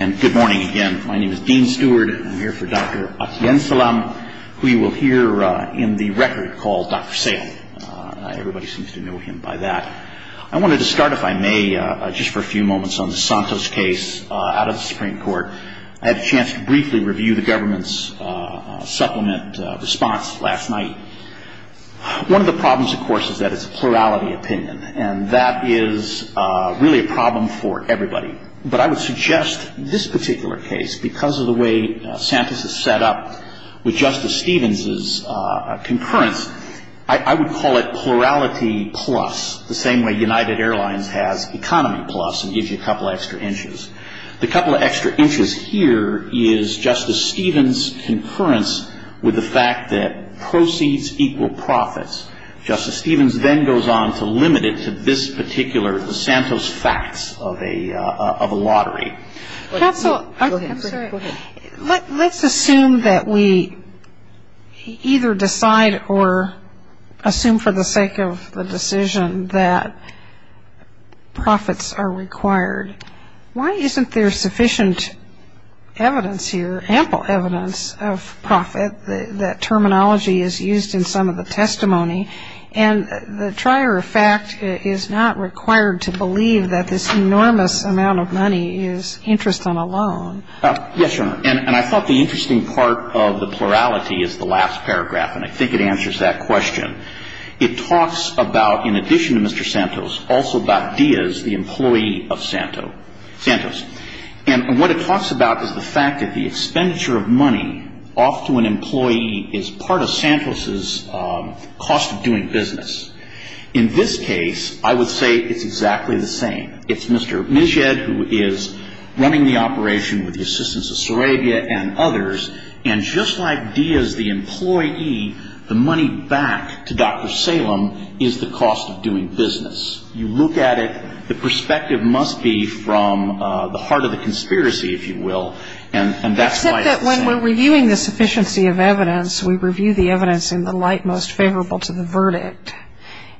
And good morning again. My name is Dean Stewart. I'm here for Dr. Atiyensalem, who you will hear in the record called Dr. Sale. Everybody seems to know him by that. I wanted to start, if I may, just for a few moments on the Santos case out of the Supreme Court. I had a chance to briefly review the government's supplement response last night. One of the problems, of course, is that it's a plurality opinion, and that is really a problem for everybody. But I would suggest this particular case, because of the way Santos is set up with Justice Stevens's concurrence, I would call it plurality plus, the same way United Airlines has economy plus and gives you a couple of extra inches. The couple of extra inches here is Justice Stevens's concurrence with the fact that proceeds equal profits. Justice Stevens then goes on to limit it to this particular Santos facts of a lottery. Counsel, let's assume that we either decide or assume for the sake of the decision that profits are required. Why isn't there sufficient evidence here, ample evidence of profit, that terminology is used in some of the testimony? And the trier of fact is not required to believe that this enormous amount of money is interest on a loan. Yes, Your Honor. And I thought the interesting part of the plurality is the last paragraph, and I think it answers that question. It talks about, in addition to Mr. Santos, also about Diaz, the employee of Santos. And what it talks about is the fact that the expenditure of money off to an employee is part of Santos's cost of doing business. In this case, I would say it's exactly the same. It's Mr. Mijed who is running the operation with the assistance of Sarabia and others. And just like Diaz, the employee, the money back to Dr. Salem is the cost of doing business. You look at it, the perspective must be from the heart of the conspiracy, if you will, and that's why it's the same. Except that when we're reviewing the sufficiency of evidence, we review the evidence in the light most favorable to the verdict.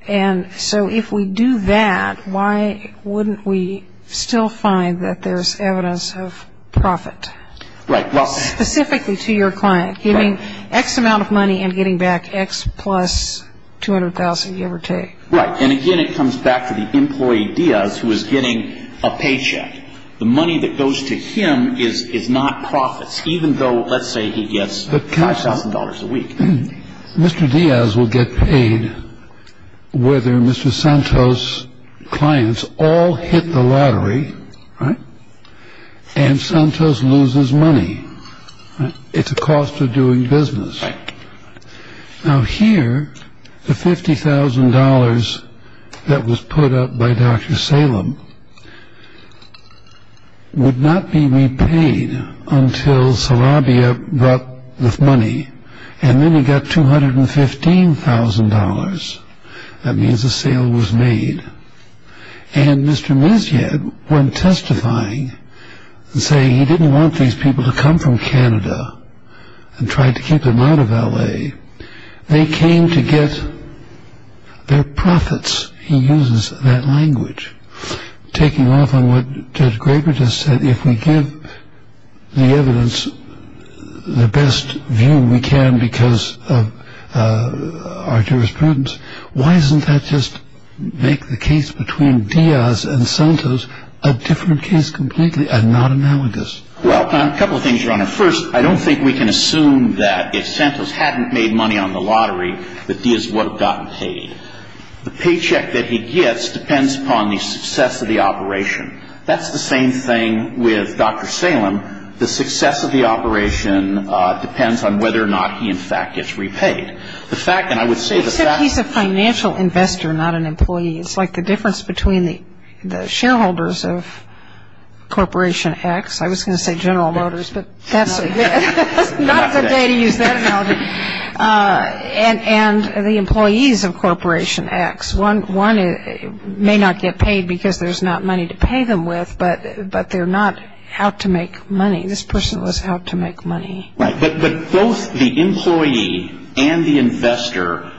And so if we do that, why wouldn't we still find that there's evidence of profit? Right. Specifically to your client, giving X amount of money and getting back X plus $200,000, give or take. Right. And again, it comes back to the employee, Diaz, who is getting a paycheck. The money that goes to him is not profits, even though, let's say, he gets $5,000 a week. Mr. Diaz will get paid whether Mr. Santos clients all hit the lottery and Santos loses money. It's a cost of doing business. Now, here, the $50,000 that was put up by Dr. Salem would not be repaid until Sarabia got the money. And then he got $215,000. That means a sale was made. And Mr. Mizyad, when testifying and saying he didn't want these people to come from Canada and tried to keep them out of L.A., they came to get their profits. He uses that language. Taking off on what Judge Graber just said, if we give the evidence the best view we can because of our jurisprudence, why doesn't that just make the case between Diaz and Santos a different case completely and not analogous? Well, a couple of things, Your Honor. First, I don't think we can assume that if Santos hadn't made money on the lottery that Diaz would have gotten paid. The paycheck that he gets depends upon the success of the operation. That's the same thing with Dr. Salem. The success of the operation depends on whether or not he, in fact, gets repaid. The fact, and I would say the fact- Except he's a financial investor, not an employee. It's like the difference between the shareholders of Corporation X. I was going to say General Motors, but that's not a good way to use that analogy. And the employees of Corporation X. One may not get paid because there's not money to pay them with, but they're not out to make money. This person was out to make money. Right, but both the employee and the investor,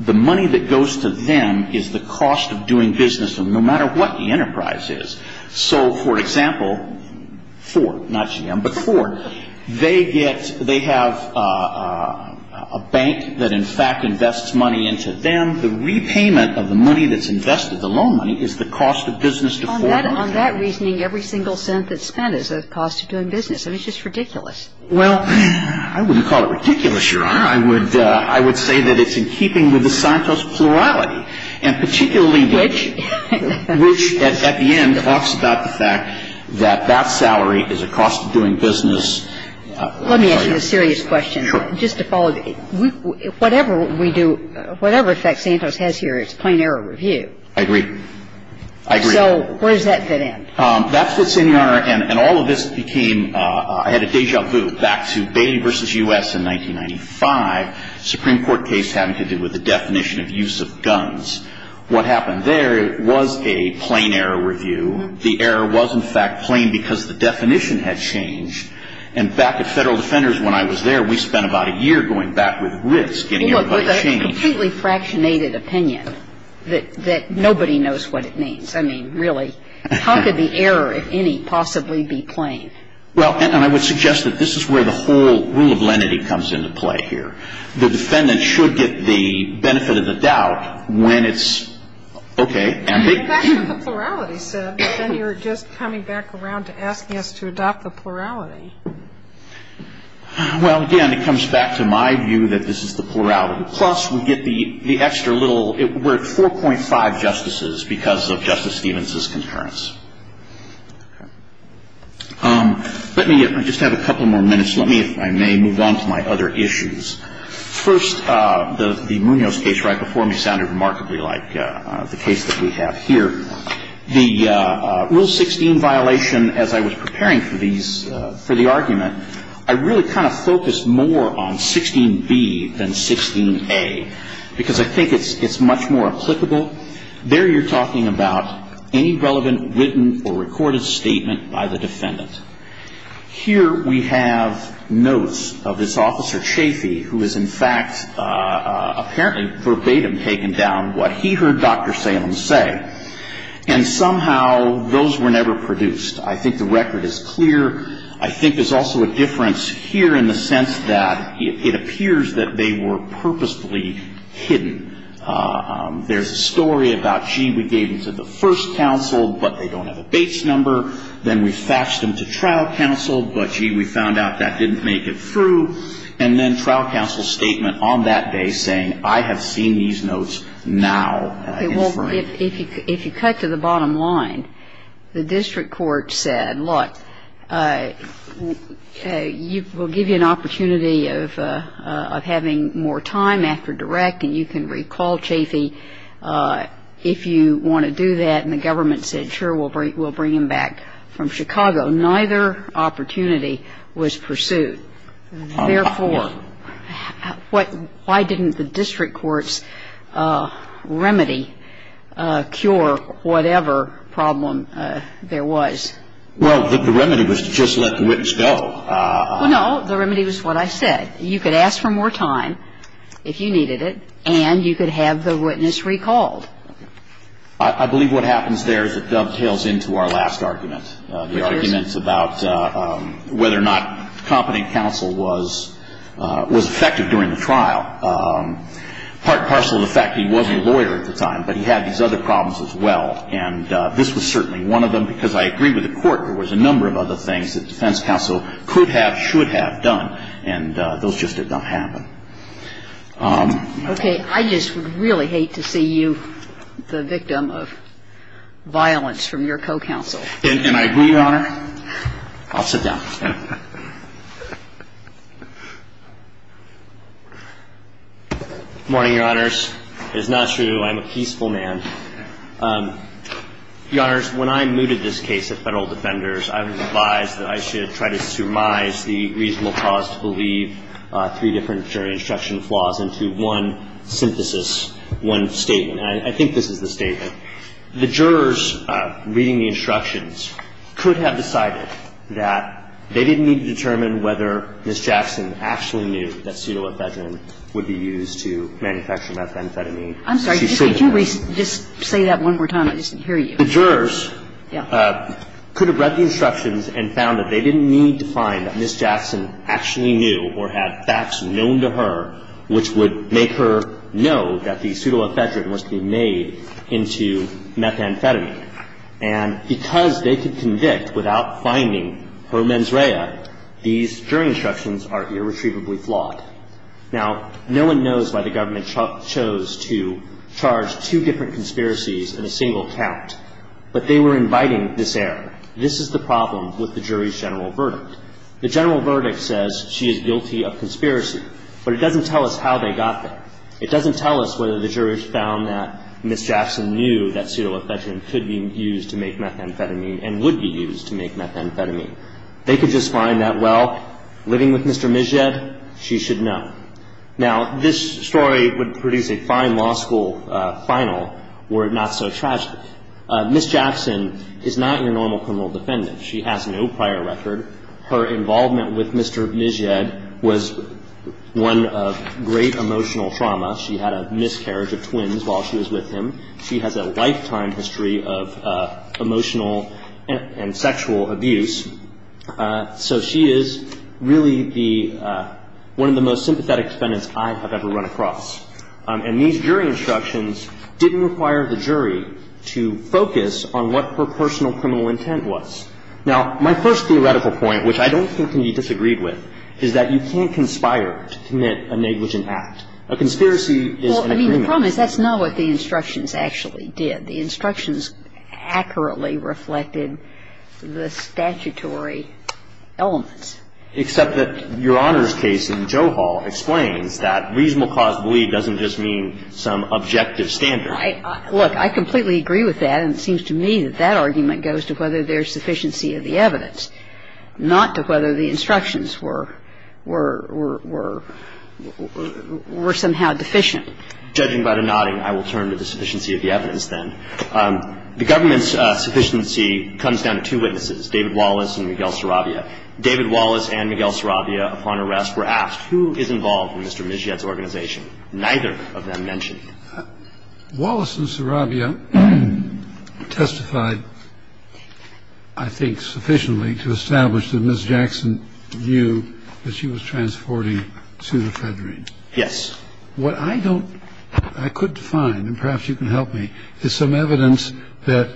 the money that goes to them is the cost of doing business no matter what the enterprise is. So, for example, Ford, not GM, but Ford, they have a bank that, in fact, invests money into them. The repayment of the money that's invested, the loan money, is the cost of business to Ford. On that reasoning, every single cent that's spent is the cost of doing business, and it's just ridiculous. Well, I wouldn't call it ridiculous, Your Honor. I would say that it's in keeping with the Santos plurality, and particularly- Which? Which, at the end, talks about the fact that that salary is a cost of doing business. Let me ask you a serious question. Sure. Just to follow. Whatever we do, whatever effect Santos has here, it's plain error review. I agree. I agree. So where does that fit in? That fits in, Your Honor. And all of this became – I had a deja vu back to Bailey v. U.S. in 1995, Supreme Court case having to do with the definition of use of guns. What happened there was a plain error review. The error was, in fact, plain because the definition had changed. And back at Federal Defenders when I was there, we spent about a year going back with Ritz getting everybody to change. Well, with a completely fractionated opinion that nobody knows what it means. I mean, really, how could the error, if any, possibly be plain? Well, and I would suggest that this is where the whole rule of lenity comes into play here. The defendant should get the benefit of the doubt when it's, okay, and they – That's what the plurality said. Then you're just coming back around to asking us to adopt the plurality. Well, again, it comes back to my view that this is the plurality. Plus, we get the extra little – we're at 4.5 justices because of Justice Stevens' concurrence. Okay. Let me just have a couple more minutes. Let me, if I may, move on to my other issues. First, the Munoz case right before me sounded remarkably like the case that we have here. The Rule 16 violation, as I was preparing for these – for the argument, I really kind of focused more on 16b than 16a, because I think it's much more applicable. There you're talking about any relevant written or recorded statement by the defendant. Here we have notes of this Officer Chafee, who has, in fact, apparently verbatim taken down what he heard Dr. Salem say. And somehow those were never produced. I think the record is clear. I think there's also a difference here in the sense that it appears that they were purposefully hidden. There's a story about, gee, we gave them to the first counsel, but they don't have a base number. Then we faxed them to trial counsel, but, gee, we found out that didn't make it through. And then trial counsel's statement on that day saying, I have seen these notes now. If you cut to the bottom line, the district court said, look, we'll give you an opportunity of having more time after direct, and you can recall, Chafee, if you want to do that. And the government said, sure, we'll bring him back from Chicago. Neither opportunity was pursued. Therefore, why didn't the district court's remedy cure whatever problem there was? Well, the remedy was to just let the witness go. Well, no. The remedy was what I said. You could ask for more time if you needed it, and you could have the witness recalled. I believe what happens there is it dovetails into our last argument. The argument's about whether or not competent counsel was effective during the trial, part and parcel of the fact that he wasn't a lawyer at the time, but he had these other problems as well. And this was certainly one of them, because I agree with the Court, there was a number of other things that defense counsel could have, should have done. And those just did not happen. Okay. I just really hate to see you the victim of violence from your co-counsel. And I agree, Your Honor. I'll sit down. Good morning, Your Honors. It's not true. I'm a peaceful man. Your Honors, when I mooted this case at Federal Defenders, I was advised that I should try to surmise the reasonable cause to believe three different jury instruction flaws into one synthesis, one statement. And I think this is the statement. The jurors reading the instructions could have decided that they didn't need to determine whether Ms. Jackson actually knew that pseudoephedrine would be used to manufacture methamphetamine. I'm sorry. Could you just say that one more time? I just didn't hear you. The jurors could have read the instructions and found that they didn't need to find that Ms. Jackson actually knew or had facts known to her which would make her know that the pseudoephedrine was to be made into methamphetamine. And because they could convict without finding her mens rea, these jury instructions are irretrievably flawed. Now, no one knows why the government chose to charge two different conspiracies in a single count. But they were inviting this error. This is the problem with the jury's general verdict. The general verdict says she is guilty of conspiracy. But it doesn't tell us how they got there. It doesn't tell us whether the jurors found that Ms. Jackson knew that pseudoephedrine could be used to make methamphetamine and would be used to make methamphetamine. They could just find that, well, living with Mr. Mizjed, she should know. Now, this story would produce a fine law school final were it not so tragic. Ms. Jackson is not your normal criminal defendant. She has no prior record. Her involvement with Mr. Mizjed was one of great emotional trauma. She had a miscarriage of twins while she was with him. She has a lifetime history of emotional and sexual abuse. So she is really the one of the most sympathetic defendants I have ever run across. And these jury instructions didn't require the jury to focus on what her personal criminal intent was. Now, my first theoretical point, which I don't think can be disagreed with, is that you can't conspire to commit a negligent act. A conspiracy is an agreement. Well, I mean, the problem is that's not what the instructions actually did. The instructions accurately reflected the statutory elements. Except that Your Honor's case in Joe Hall explains that reasonable cause of belief doesn't just mean some objective standard. Look, I completely agree with that, and it seems to me that that argument goes to whether there's sufficiency of the evidence, not to whether the instructions were somehow deficient. Judging by the nodding, I will turn to the sufficiency of the evidence then. The government's sufficiency comes down to two witnesses, David Wallace and Miguel Sarabia. David Wallace and Miguel Sarabia, upon arrest, were asked, who is involved in Mr. Michette's organization? Neither of them mentioned. Wallace and Sarabia testified, I think, sufficiently to establish that Ms. Jackson knew that she was transporting pseudo-federine. Yes. What I don't, I could define, and perhaps you can help me, is some evidence that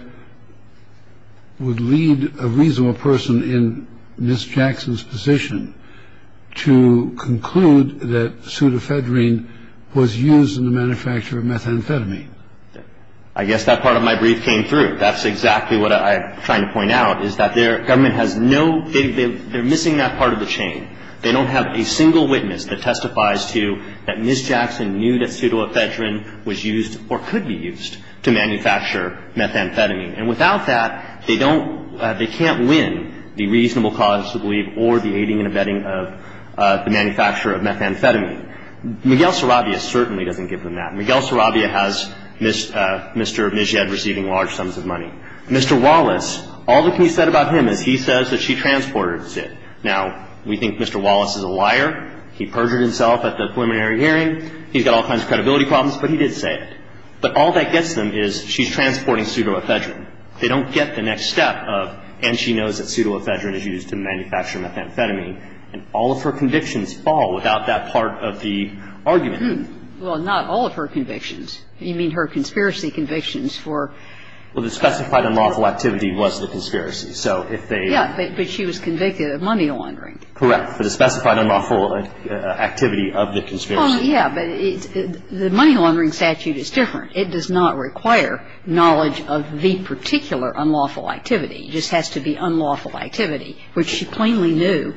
would lead a reasonable person in Ms. Jackson's position to conclude that pseudo-federine was used in the manufacture of methamphetamine. I guess that part of my brief came through. That's exactly what I'm trying to point out, is that their government has no, they're missing that part of the chain. They don't have a single witness that testifies to that Ms. Jackson knew that pseudo-federine was used or could be used to manufacture methamphetamine. And without that, they don't, they can't win the reasonable cause to believe or the aiding and abetting of the manufacture of methamphetamine. Miguel Sarabia certainly doesn't give them that. Miguel Sarabia has Mr. Michette receiving large sums of money. Mr. Wallace, all that can be said about him is he says that she transported pseudo-federine. Now, we think Mr. Wallace is a liar. He perjured himself at the preliminary hearing. He's got all kinds of credibility problems, but he did say it. But all that gets them is she's transporting pseudo-federine. They don't get the next step of, and she knows that pseudo-federine is used to manufacture methamphetamine. And all of her convictions fall without that part of the argument. Well, not all of her convictions. You mean her conspiracy convictions for the specified unlawful activity was the conspiracy. Yeah, but she was convicted of money laundering. Correct, for the specified unlawful activity of the conspiracy. Yeah, but the money laundering statute is different. It does not require knowledge of the particular unlawful activity. It just has to be unlawful activity, which she plainly knew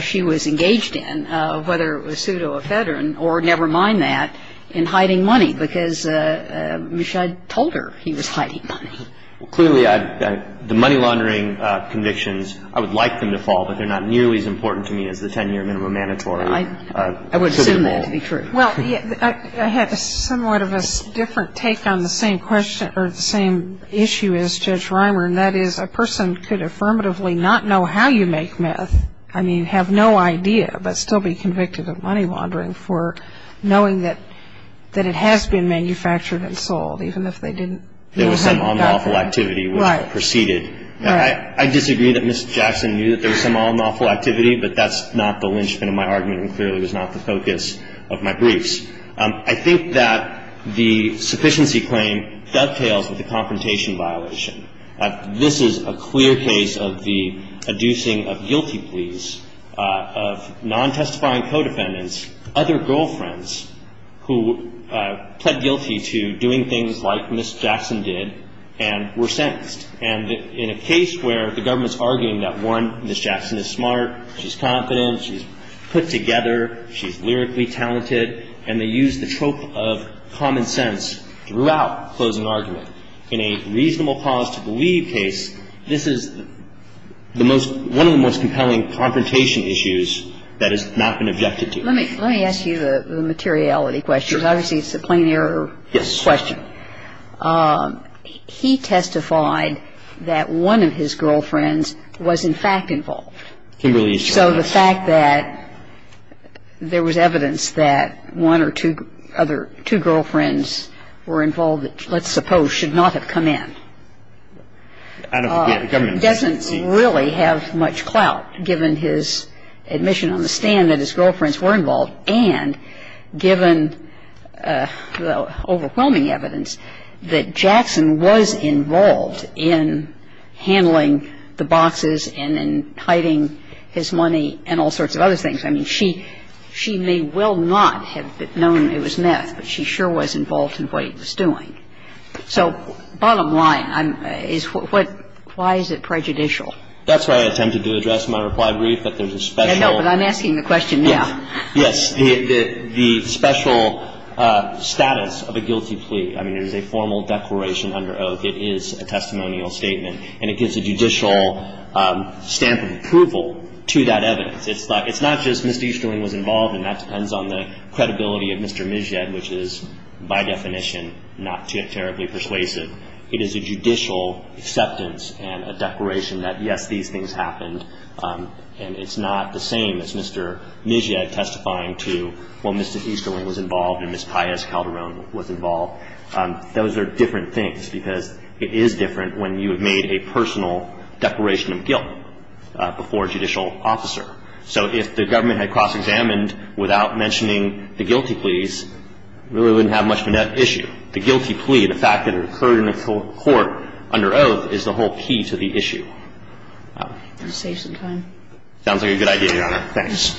she was engaged in, whether it was pseudo-federine or never mind that, in hiding money, because Michette told her he was hiding money. Clearly, the money laundering convictions, I would like them to fall, but they're not nearly as important to me as the 10-year minimum mandatory. I would assume that to be true. Well, I had somewhat of a different take on the same question or the same issue as Judge Reimer, and that is a person could affirmatively not know how you make meth, I mean have no idea, but still be convicted of money laundering for knowing that it has been manufactured and sold, even if they didn't know how it got there. There was some unlawful activity which proceeded. Right. I disagree that Ms. Jackson knew that there was some unlawful activity, but that's not the linchpin of my argument and clearly was not the focus of my briefs. I think that the sufficiency claim dovetails with the confrontation violation. This is a clear case of the adducing of guilty pleas, of non-testifying co-defendants, other girlfriends who pled guilty to doing things like Ms. Jackson did and were sentenced. And in a case where the government's arguing that, one, Ms. Jackson is smart, she's confident, she's put together, she's lyrically talented, and they use the trope of common sense throughout closing argument, in a reasonable cause to believe case, this is the most one of the most compelling confrontation issues that has not been objected to. Let me ask you the materiality question. Sure. Obviously, it's a plain error question. Yes. He testified that one of his girlfriends was in fact involved. Kimberly is correct. So the fact that there was evidence that one or two other, two girlfriends were involved that let's suppose should not have come in doesn't really have much clout, given his admission on the stand that his girlfriends were involved and given the overwhelming evidence that Jackson was involved in handling the boxes and in hiding his money and all sorts of other things. I mean, she may well not have known it was meth, but she sure was involved in what he was doing. So bottom line is what why is it prejudicial? That's why I attempted to address my reply brief, that there's a special. I know, but I'm asking the question now. Yes. The special status of a guilty plea. I mean, it is a formal declaration under oath. It is a testimonial statement, and it gives a judicial stamp of approval to that evidence. It's not just Mr. Easterling was involved, and that depends on the credibility of Mr. Mishad, which is by definition not terribly persuasive. It is a judicial acceptance and a declaration that, yes, these things happened, and it's not the same as Mr. Mishad testifying to when Mr. Easterling was involved and Ms. Pius Calderon was involved. Those are different things because it is different when you have made a personal declaration of guilt before a judicial officer. So if the government had cross-examined without mentioning the guilty pleas, really wouldn't have much of an issue. The guilty plea, the fact that it occurred in the court under oath, is the whole key to the issue. I'm going to save some time. Sounds like a good idea, Your Honor. Thanks.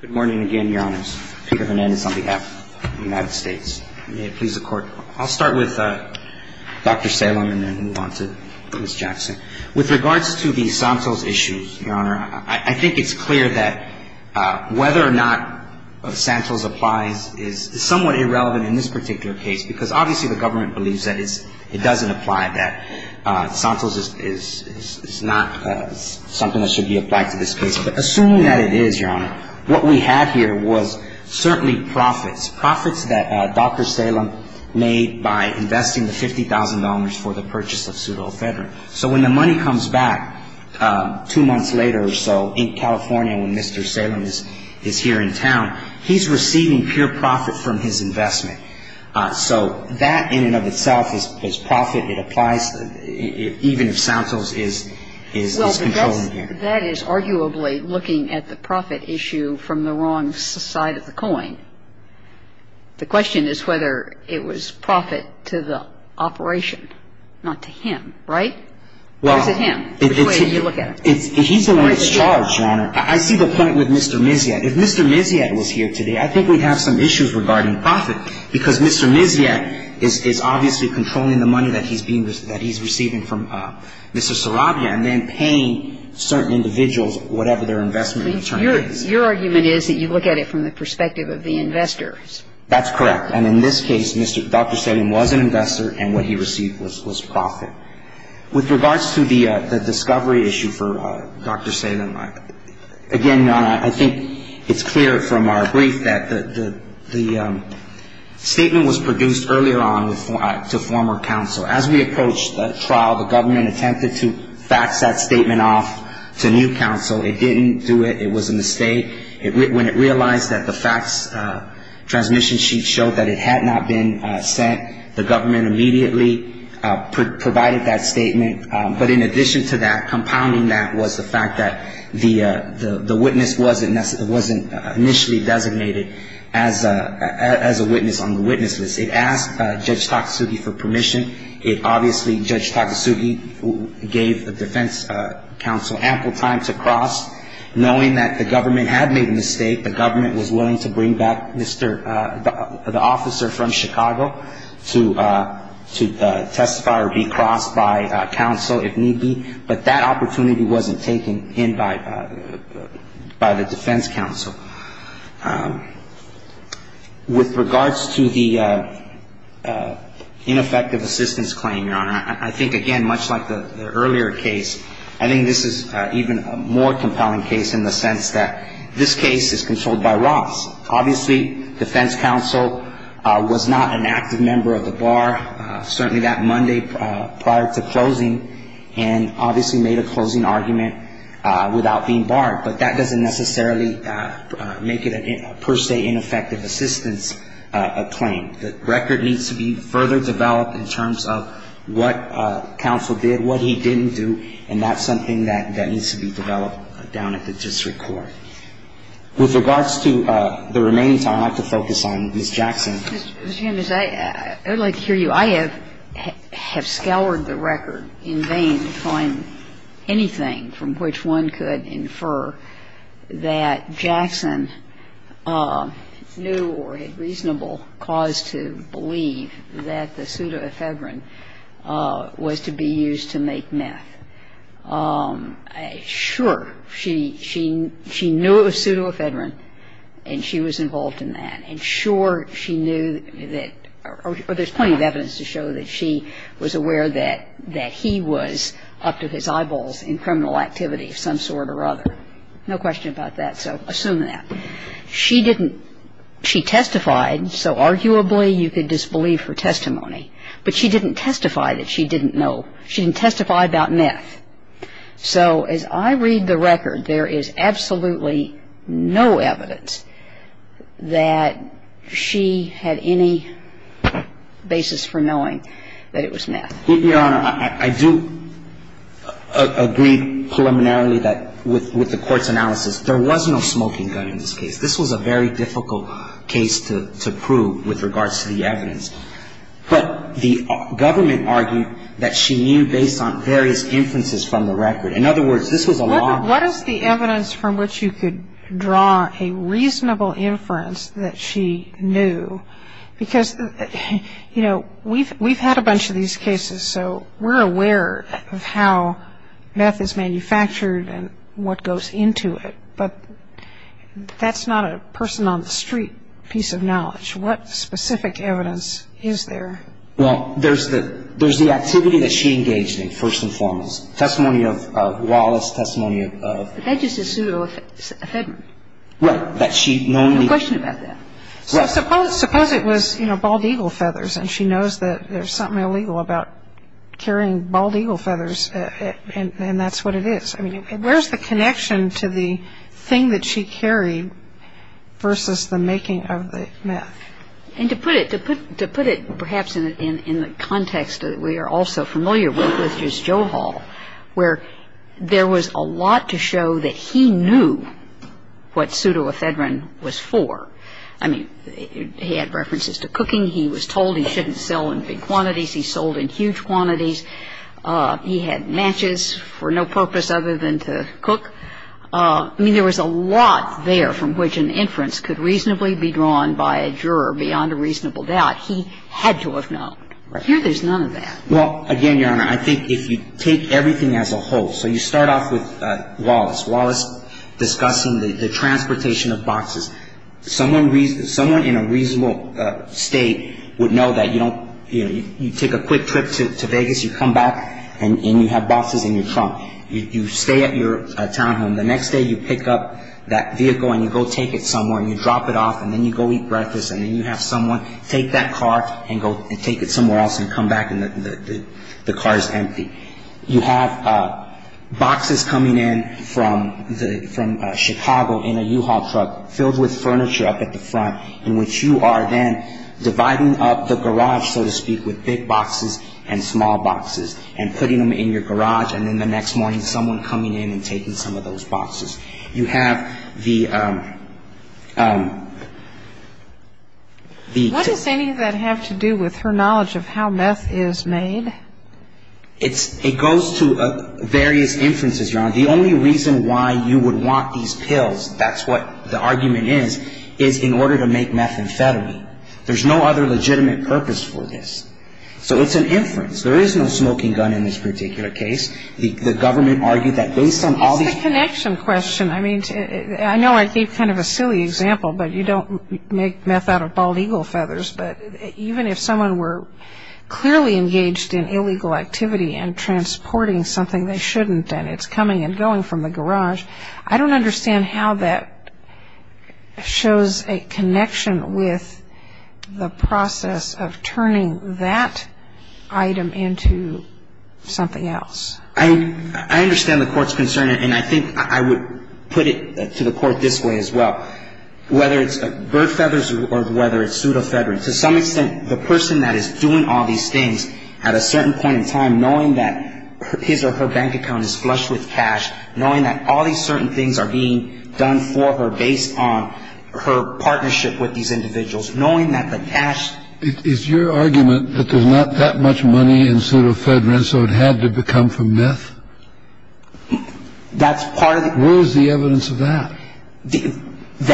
Good morning again, Your Honors. Peter Hernandez on behalf of the United States. May it please the Court. I'll start with Dr. Salem and then move on to Ms. Jackson. With regards to the Santos issues, Your Honor, I think it's clear that whether or not Santos applies is somewhat irrelevant in this particular case because, obviously, the government believes that it doesn't apply, that Santos is not something that should be applied to this case. But assuming that it is, Your Honor, what we had here was certainly profits, profits that Dr. Salem made by investing the $50,000 for the purchase of pseudofederant. So when the money comes back two months later or so in California when Mr. Salem is here in town, he's receiving pure profit from his investment. So that in and of itself is profit. It applies even if Santos is controlling him. Well, that is arguably looking at the profit issue from the wrong side of the coin. The question is whether it was profit to the operation, not to him. Right? Or is it him? Which way do you look at it? He's the one that's charged, Your Honor. I see the point with Mr. Miziat. If Mr. Miziat was here today, I think we'd have some issues regarding profit because Mr. Miziat is obviously controlling the money that he's receiving from Mr. Sarabia and then paying certain individuals whatever their investment return is. Your argument is that you look at it from the perspective of the investors. That's correct. And in this case, Dr. Salem was an investor, and what he received was profit. With regards to the discovery issue for Dr. Salem, again, Your Honor, I think it's clear from our brief that the statement was produced earlier on to former counsel. As we approached the trial, the government attempted to fax that statement off to new counsel. It didn't do it. It was a mistake. When it realized that the fax transmission sheet showed that it had not been sent, the government immediately provided that statement. But in addition to that, compounding that was the fact that the witness wasn't initially designated as a witness on the witness list. It asked Judge Takasugi for permission. It obviously, Judge Takasugi gave the defense counsel ample time to cross, knowing that the government had made a mistake. The government was willing to bring back the officer from Chicago to testify or be crossed by counsel if need be. But that opportunity wasn't taken in by the defense counsel. With regards to the ineffective assistance claim, Your Honor, I think, again, much like the earlier case, I think this is even a more compelling case in the sense that this case is controlled by Ross. Obviously, defense counsel was not an active member of the bar, certainly that Monday prior to closing, and obviously made a closing argument without being barred. But that doesn't necessarily make it a per se ineffective assistance claim. The record needs to be further developed in terms of what counsel did, what he didn't do, and that's something that needs to be developed down at the district court. With regards to the remaining time, I'd like to focus on Ms. Jackson. Ms. Jackson. I would like to hear you. Well, I have scoured the record in vain to find anything from which one could infer that Jackson knew or had reasonable cause to believe that the pseudoephedrine was to be used to make meth. Sure, she knew it was pseudoephedrine and she was involved in that. And sure, she knew that or there's plenty of evidence to show that she was aware that he was up to his eyeballs in criminal activity of some sort or other. No question about that, so assume that. She didn't – she testified, so arguably you could disbelieve her testimony, but she didn't testify that she didn't know. She didn't testify about meth. So as I read the record, there is absolutely no evidence that she had any basis for knowing that it was meth. Your Honor, I do agree preliminarily that with the court's analysis, there was no smoking gun in this case. This was a very difficult case to prove with regards to the evidence. But the government argued that she knew based on various inferences from the record. In other words, this was a long – What is the evidence from which you could draw a reasonable inference that she knew? Because, you know, we've had a bunch of these cases, so we're aware of how meth is manufactured and what goes into it, but that's not a person-on-the-street piece of knowledge. What specific evidence is there? Well, there's the activity that she engaged in, first and foremost. Testimony of Wallace, testimony of – But that's just a pseudo-affidavit. Right. No question about that. So suppose it was, you know, bald eagle feathers, and she knows that there's something illegal about carrying bald eagle feathers, and that's what it is. I mean, where's the connection to the thing that she carried versus the making of the meth? And to put it perhaps in the context that we are all so familiar with, which is Joe Hall, where there was a lot to show that he knew what pseudoephedrine was for. I mean, he had references to cooking. He was told he shouldn't sell in big quantities. He sold in huge quantities. He had matches for no purpose other than to cook. I mean, there was a lot there from which an inference could reasonably be drawn by a juror beyond a reasonable doubt. He had to have known. Right. Here there's none of that. Well, again, Your Honor, I think if you take everything as a whole, so you start off with Wallace. Wallace discussing the transportation of boxes. Someone in a reasonable state would know that you don't – you take a quick trip to Vegas, you come back and you have boxes in your trunk. You stay at your townhome. The next day you pick up that vehicle and you go take it somewhere and you drop it off and then you go eat breakfast and then you have someone take that car and go take it somewhere else and come back and the car is empty. You have boxes coming in from Chicago in a U-Haul truck filled with furniture up at the front in which you are then dividing up the garage, so to speak, with big boxes and small boxes and putting them in your garage and then the next morning someone coming in and taking some of those boxes. You have the – What does any of that have to do with her knowledge of how meth is made? The only reason why you would want these pills, that's what the argument is, is in order to make methamphetamine. There's no other legitimate purpose for this. So it's an inference. There is no smoking gun in this particular case. The government argued that based on all these – It's the connection question. I mean, I know I gave kind of a silly example, but you don't make meth out of bald eagle feathers, but even if someone were clearly engaged in illegal activity and transporting something they shouldn't and it's coming and going from the garage, I don't understand how that shows a connection with the process of turning that item into something else. I understand the court's concern, and I think I would put it to the court this way as well. Whether it's bird feathers or whether it's pseudofedrin, to some extent, the person that is doing all these things at a certain point in time, knowing that his or her bank account is flush with cash, knowing that all these certain things are being done for her based on her partnership with these individuals, knowing that the cash – Is your argument that there's not that much money in pseudofedrin so it had to become from meth? That's part of the – Where is the evidence of that?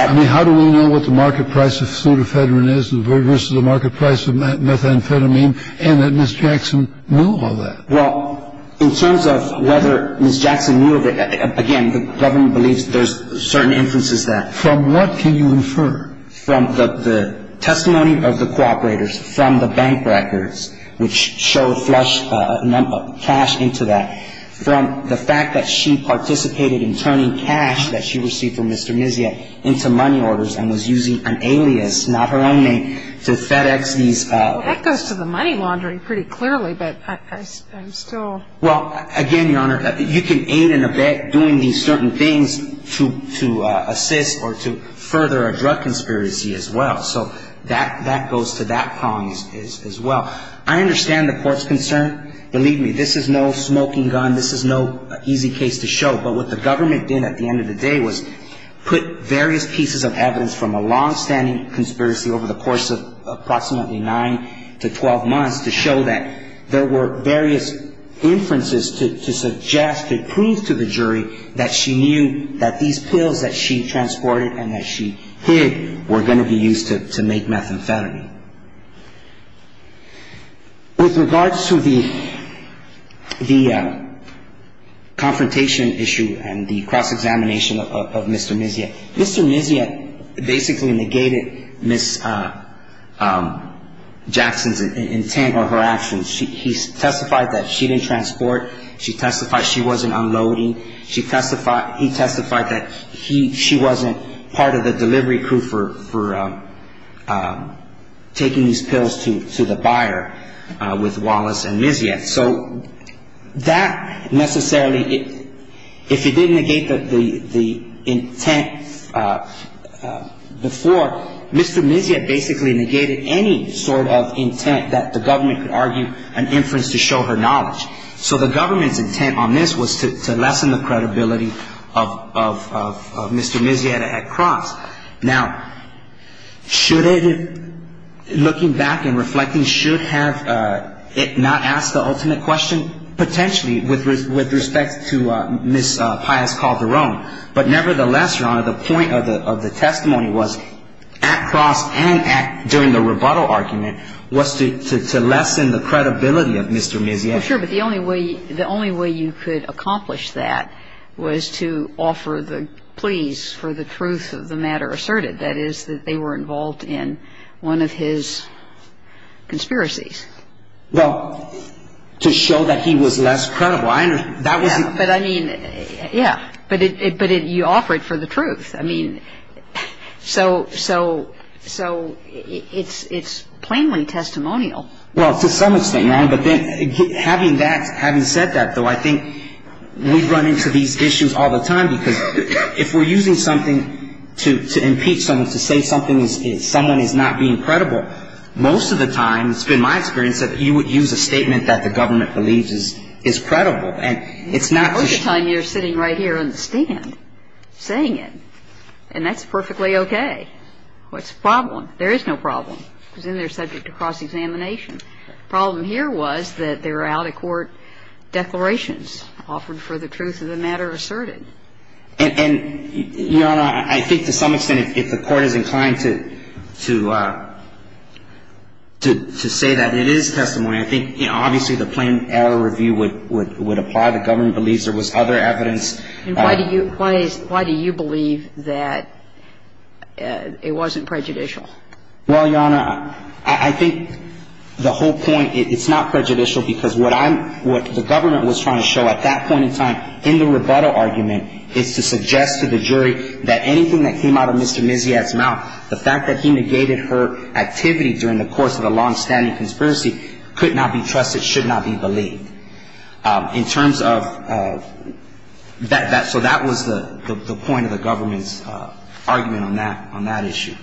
I mean, how do we know what the market price of pseudofedrin is versus the market price of methamphetamine and that Ms. Jackson knew all that? Well, in terms of whether Ms. Jackson knew of it, again, the government believes there's certain inferences there. From what can you infer? From the testimony of the cooperators, from the bank records, which show cash into that, from the fact that she participated in turning cash that she received from Mr. Niziet into money orders and was using an alias, not her own name, to FedEx these – Well, that goes to the money laundering pretty clearly, but I'm still – Well, again, Your Honor, you can aid in a bet doing these certain things to assist or to further a drug conspiracy as well. So that goes to that problem as well. I understand the court's concern. Believe me, this is no smoking gun. This is no easy case to show. But what the government did at the end of the day was put various pieces of evidence from a longstanding conspiracy over the course of approximately 9 to 12 months to show that there were various inferences to suggest, to prove to the jury, that she knew that these pills that she transported and that she hid were going to be used to make methamphetamine. With regards to the confrontation issue and the cross-examination of Mr. Niziet, Mr. Niziet basically negated Ms. Jackson's intent or her actions. He testified that she didn't transport. She testified she wasn't unloading. He testified that she wasn't part of the delivery crew for the delivery of the drugs. He testified she wasn't taking these pills to the buyer with Wallace and Niziet. So that necessarily, if he didn't negate the intent before, Mr. Niziet basically negated any sort of intent that the government could argue an inference to show her knowledge. So the government's intent on this was to lessen the credibility of Mr. Niziet at cross. Now, should it, looking back and reflecting, should have it not asked the ultimate question? Potentially, with respect to Ms. Pius Calderon. But nevertheless, Your Honor, the point of the testimony was at cross and during the rebuttal argument was to lessen the credibility of Mr. Niziet. I'm sure, but the only way you could accomplish that was to offer the pleas for the truth of the matter asserted. That is, that they were involved in one of his conspiracies. Well, to show that he was less credible. Yeah, but I mean, yeah. But you offer it for the truth. I mean, so it's plainly testimonial. Well, to some extent, Your Honor. But having that, having said that, though, I think we run into these issues all the time because if we're using something to impeach someone, to say someone is not being credible, most of the time, it's been my experience, that you would use a statement that the government believes is credible. And it's not just you. Most of the time you're sitting right here on the stand saying it. And that's perfectly okay. What's the problem? There is no problem. It was in there subject to cross-examination. The problem here was that there were out-of-court declarations offered for the truth of the matter asserted. And, Your Honor, I think to some extent if the Court is inclined to say that it is testimony, I think obviously the plain error review would apply. The government believes there was other evidence. And why do you believe that it wasn't prejudicial? Well, Your Honor, I think the whole point, it's not prejudicial because what I'm, what the government was trying to show at that point in time in the rebuttal argument is to suggest to the jury that anything that came out of Mr. Mizziat's mouth, the fact that he negated her activity during the course of a longstanding conspiracy, could not be trusted, should not be believed. In terms of that, so that was the point of the government's argument on that, on that issue.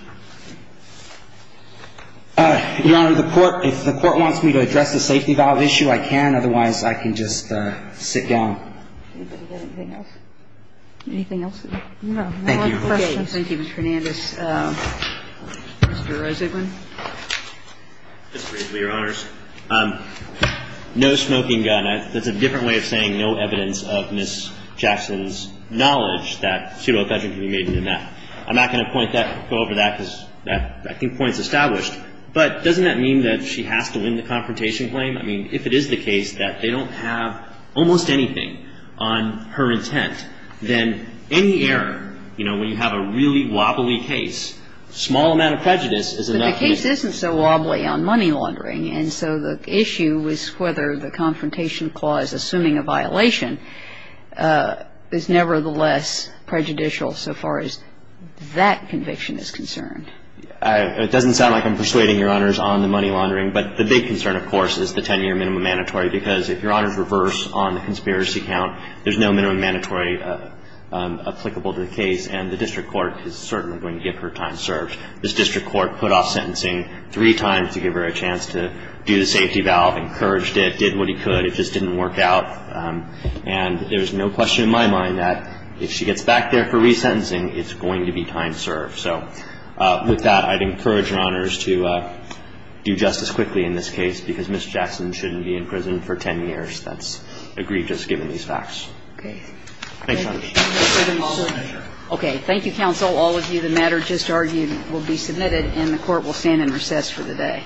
Your Honor, the Court, if the Court wants me to address the safety valve issue, I can. Otherwise, I can just sit down. Anything else? No. Thank you. Okay. Thank you, Mr. Hernandez. Mr. Rosenblum. Mr. Rosenblum, Your Honors. No smoking gun. That's a different way of saying no evidence of Ms. Jackson's knowledge that pseudo-pledging could be made in that. I'm not going to point that, go over that because I think the point is established. But doesn't that mean that she has to win the confrontation claim? I mean, if it is the case that they don't have almost anything on her intent, then any error, you know, when you have a really wobbly case, a small amount of prejudice is enough. But the case isn't so wobbly on money laundering, and so the issue is whether the confrontation clause assuming a violation is nevertheless prejudicial so far as that conviction is concerned. It doesn't sound like I'm persuading Your Honors on the money laundering, but the big concern, of course, is the 10-year minimum mandatory because if Your Honors reverse on the conspiracy count, there's no minimum mandatory applicable to the case, and the district court is certainly going to get her time served. This district court put off sentencing three times to give her a chance to do the safety valve, encouraged it, did what he could. It just didn't work out. And there's no question in my mind that if she gets back there for resentencing, it's going to be time served. So with that, I'd encourage Your Honors to do justice quickly in this case because Ms. Jackson shouldn't be in prison for 10 years. That's agreed just given these facts. Okay. Thanks, Your Honors. Thank you. Okay. Thank you, counsel. All of you, the matter just argued will be submitted, and the court will stand in recess for the day. All rise.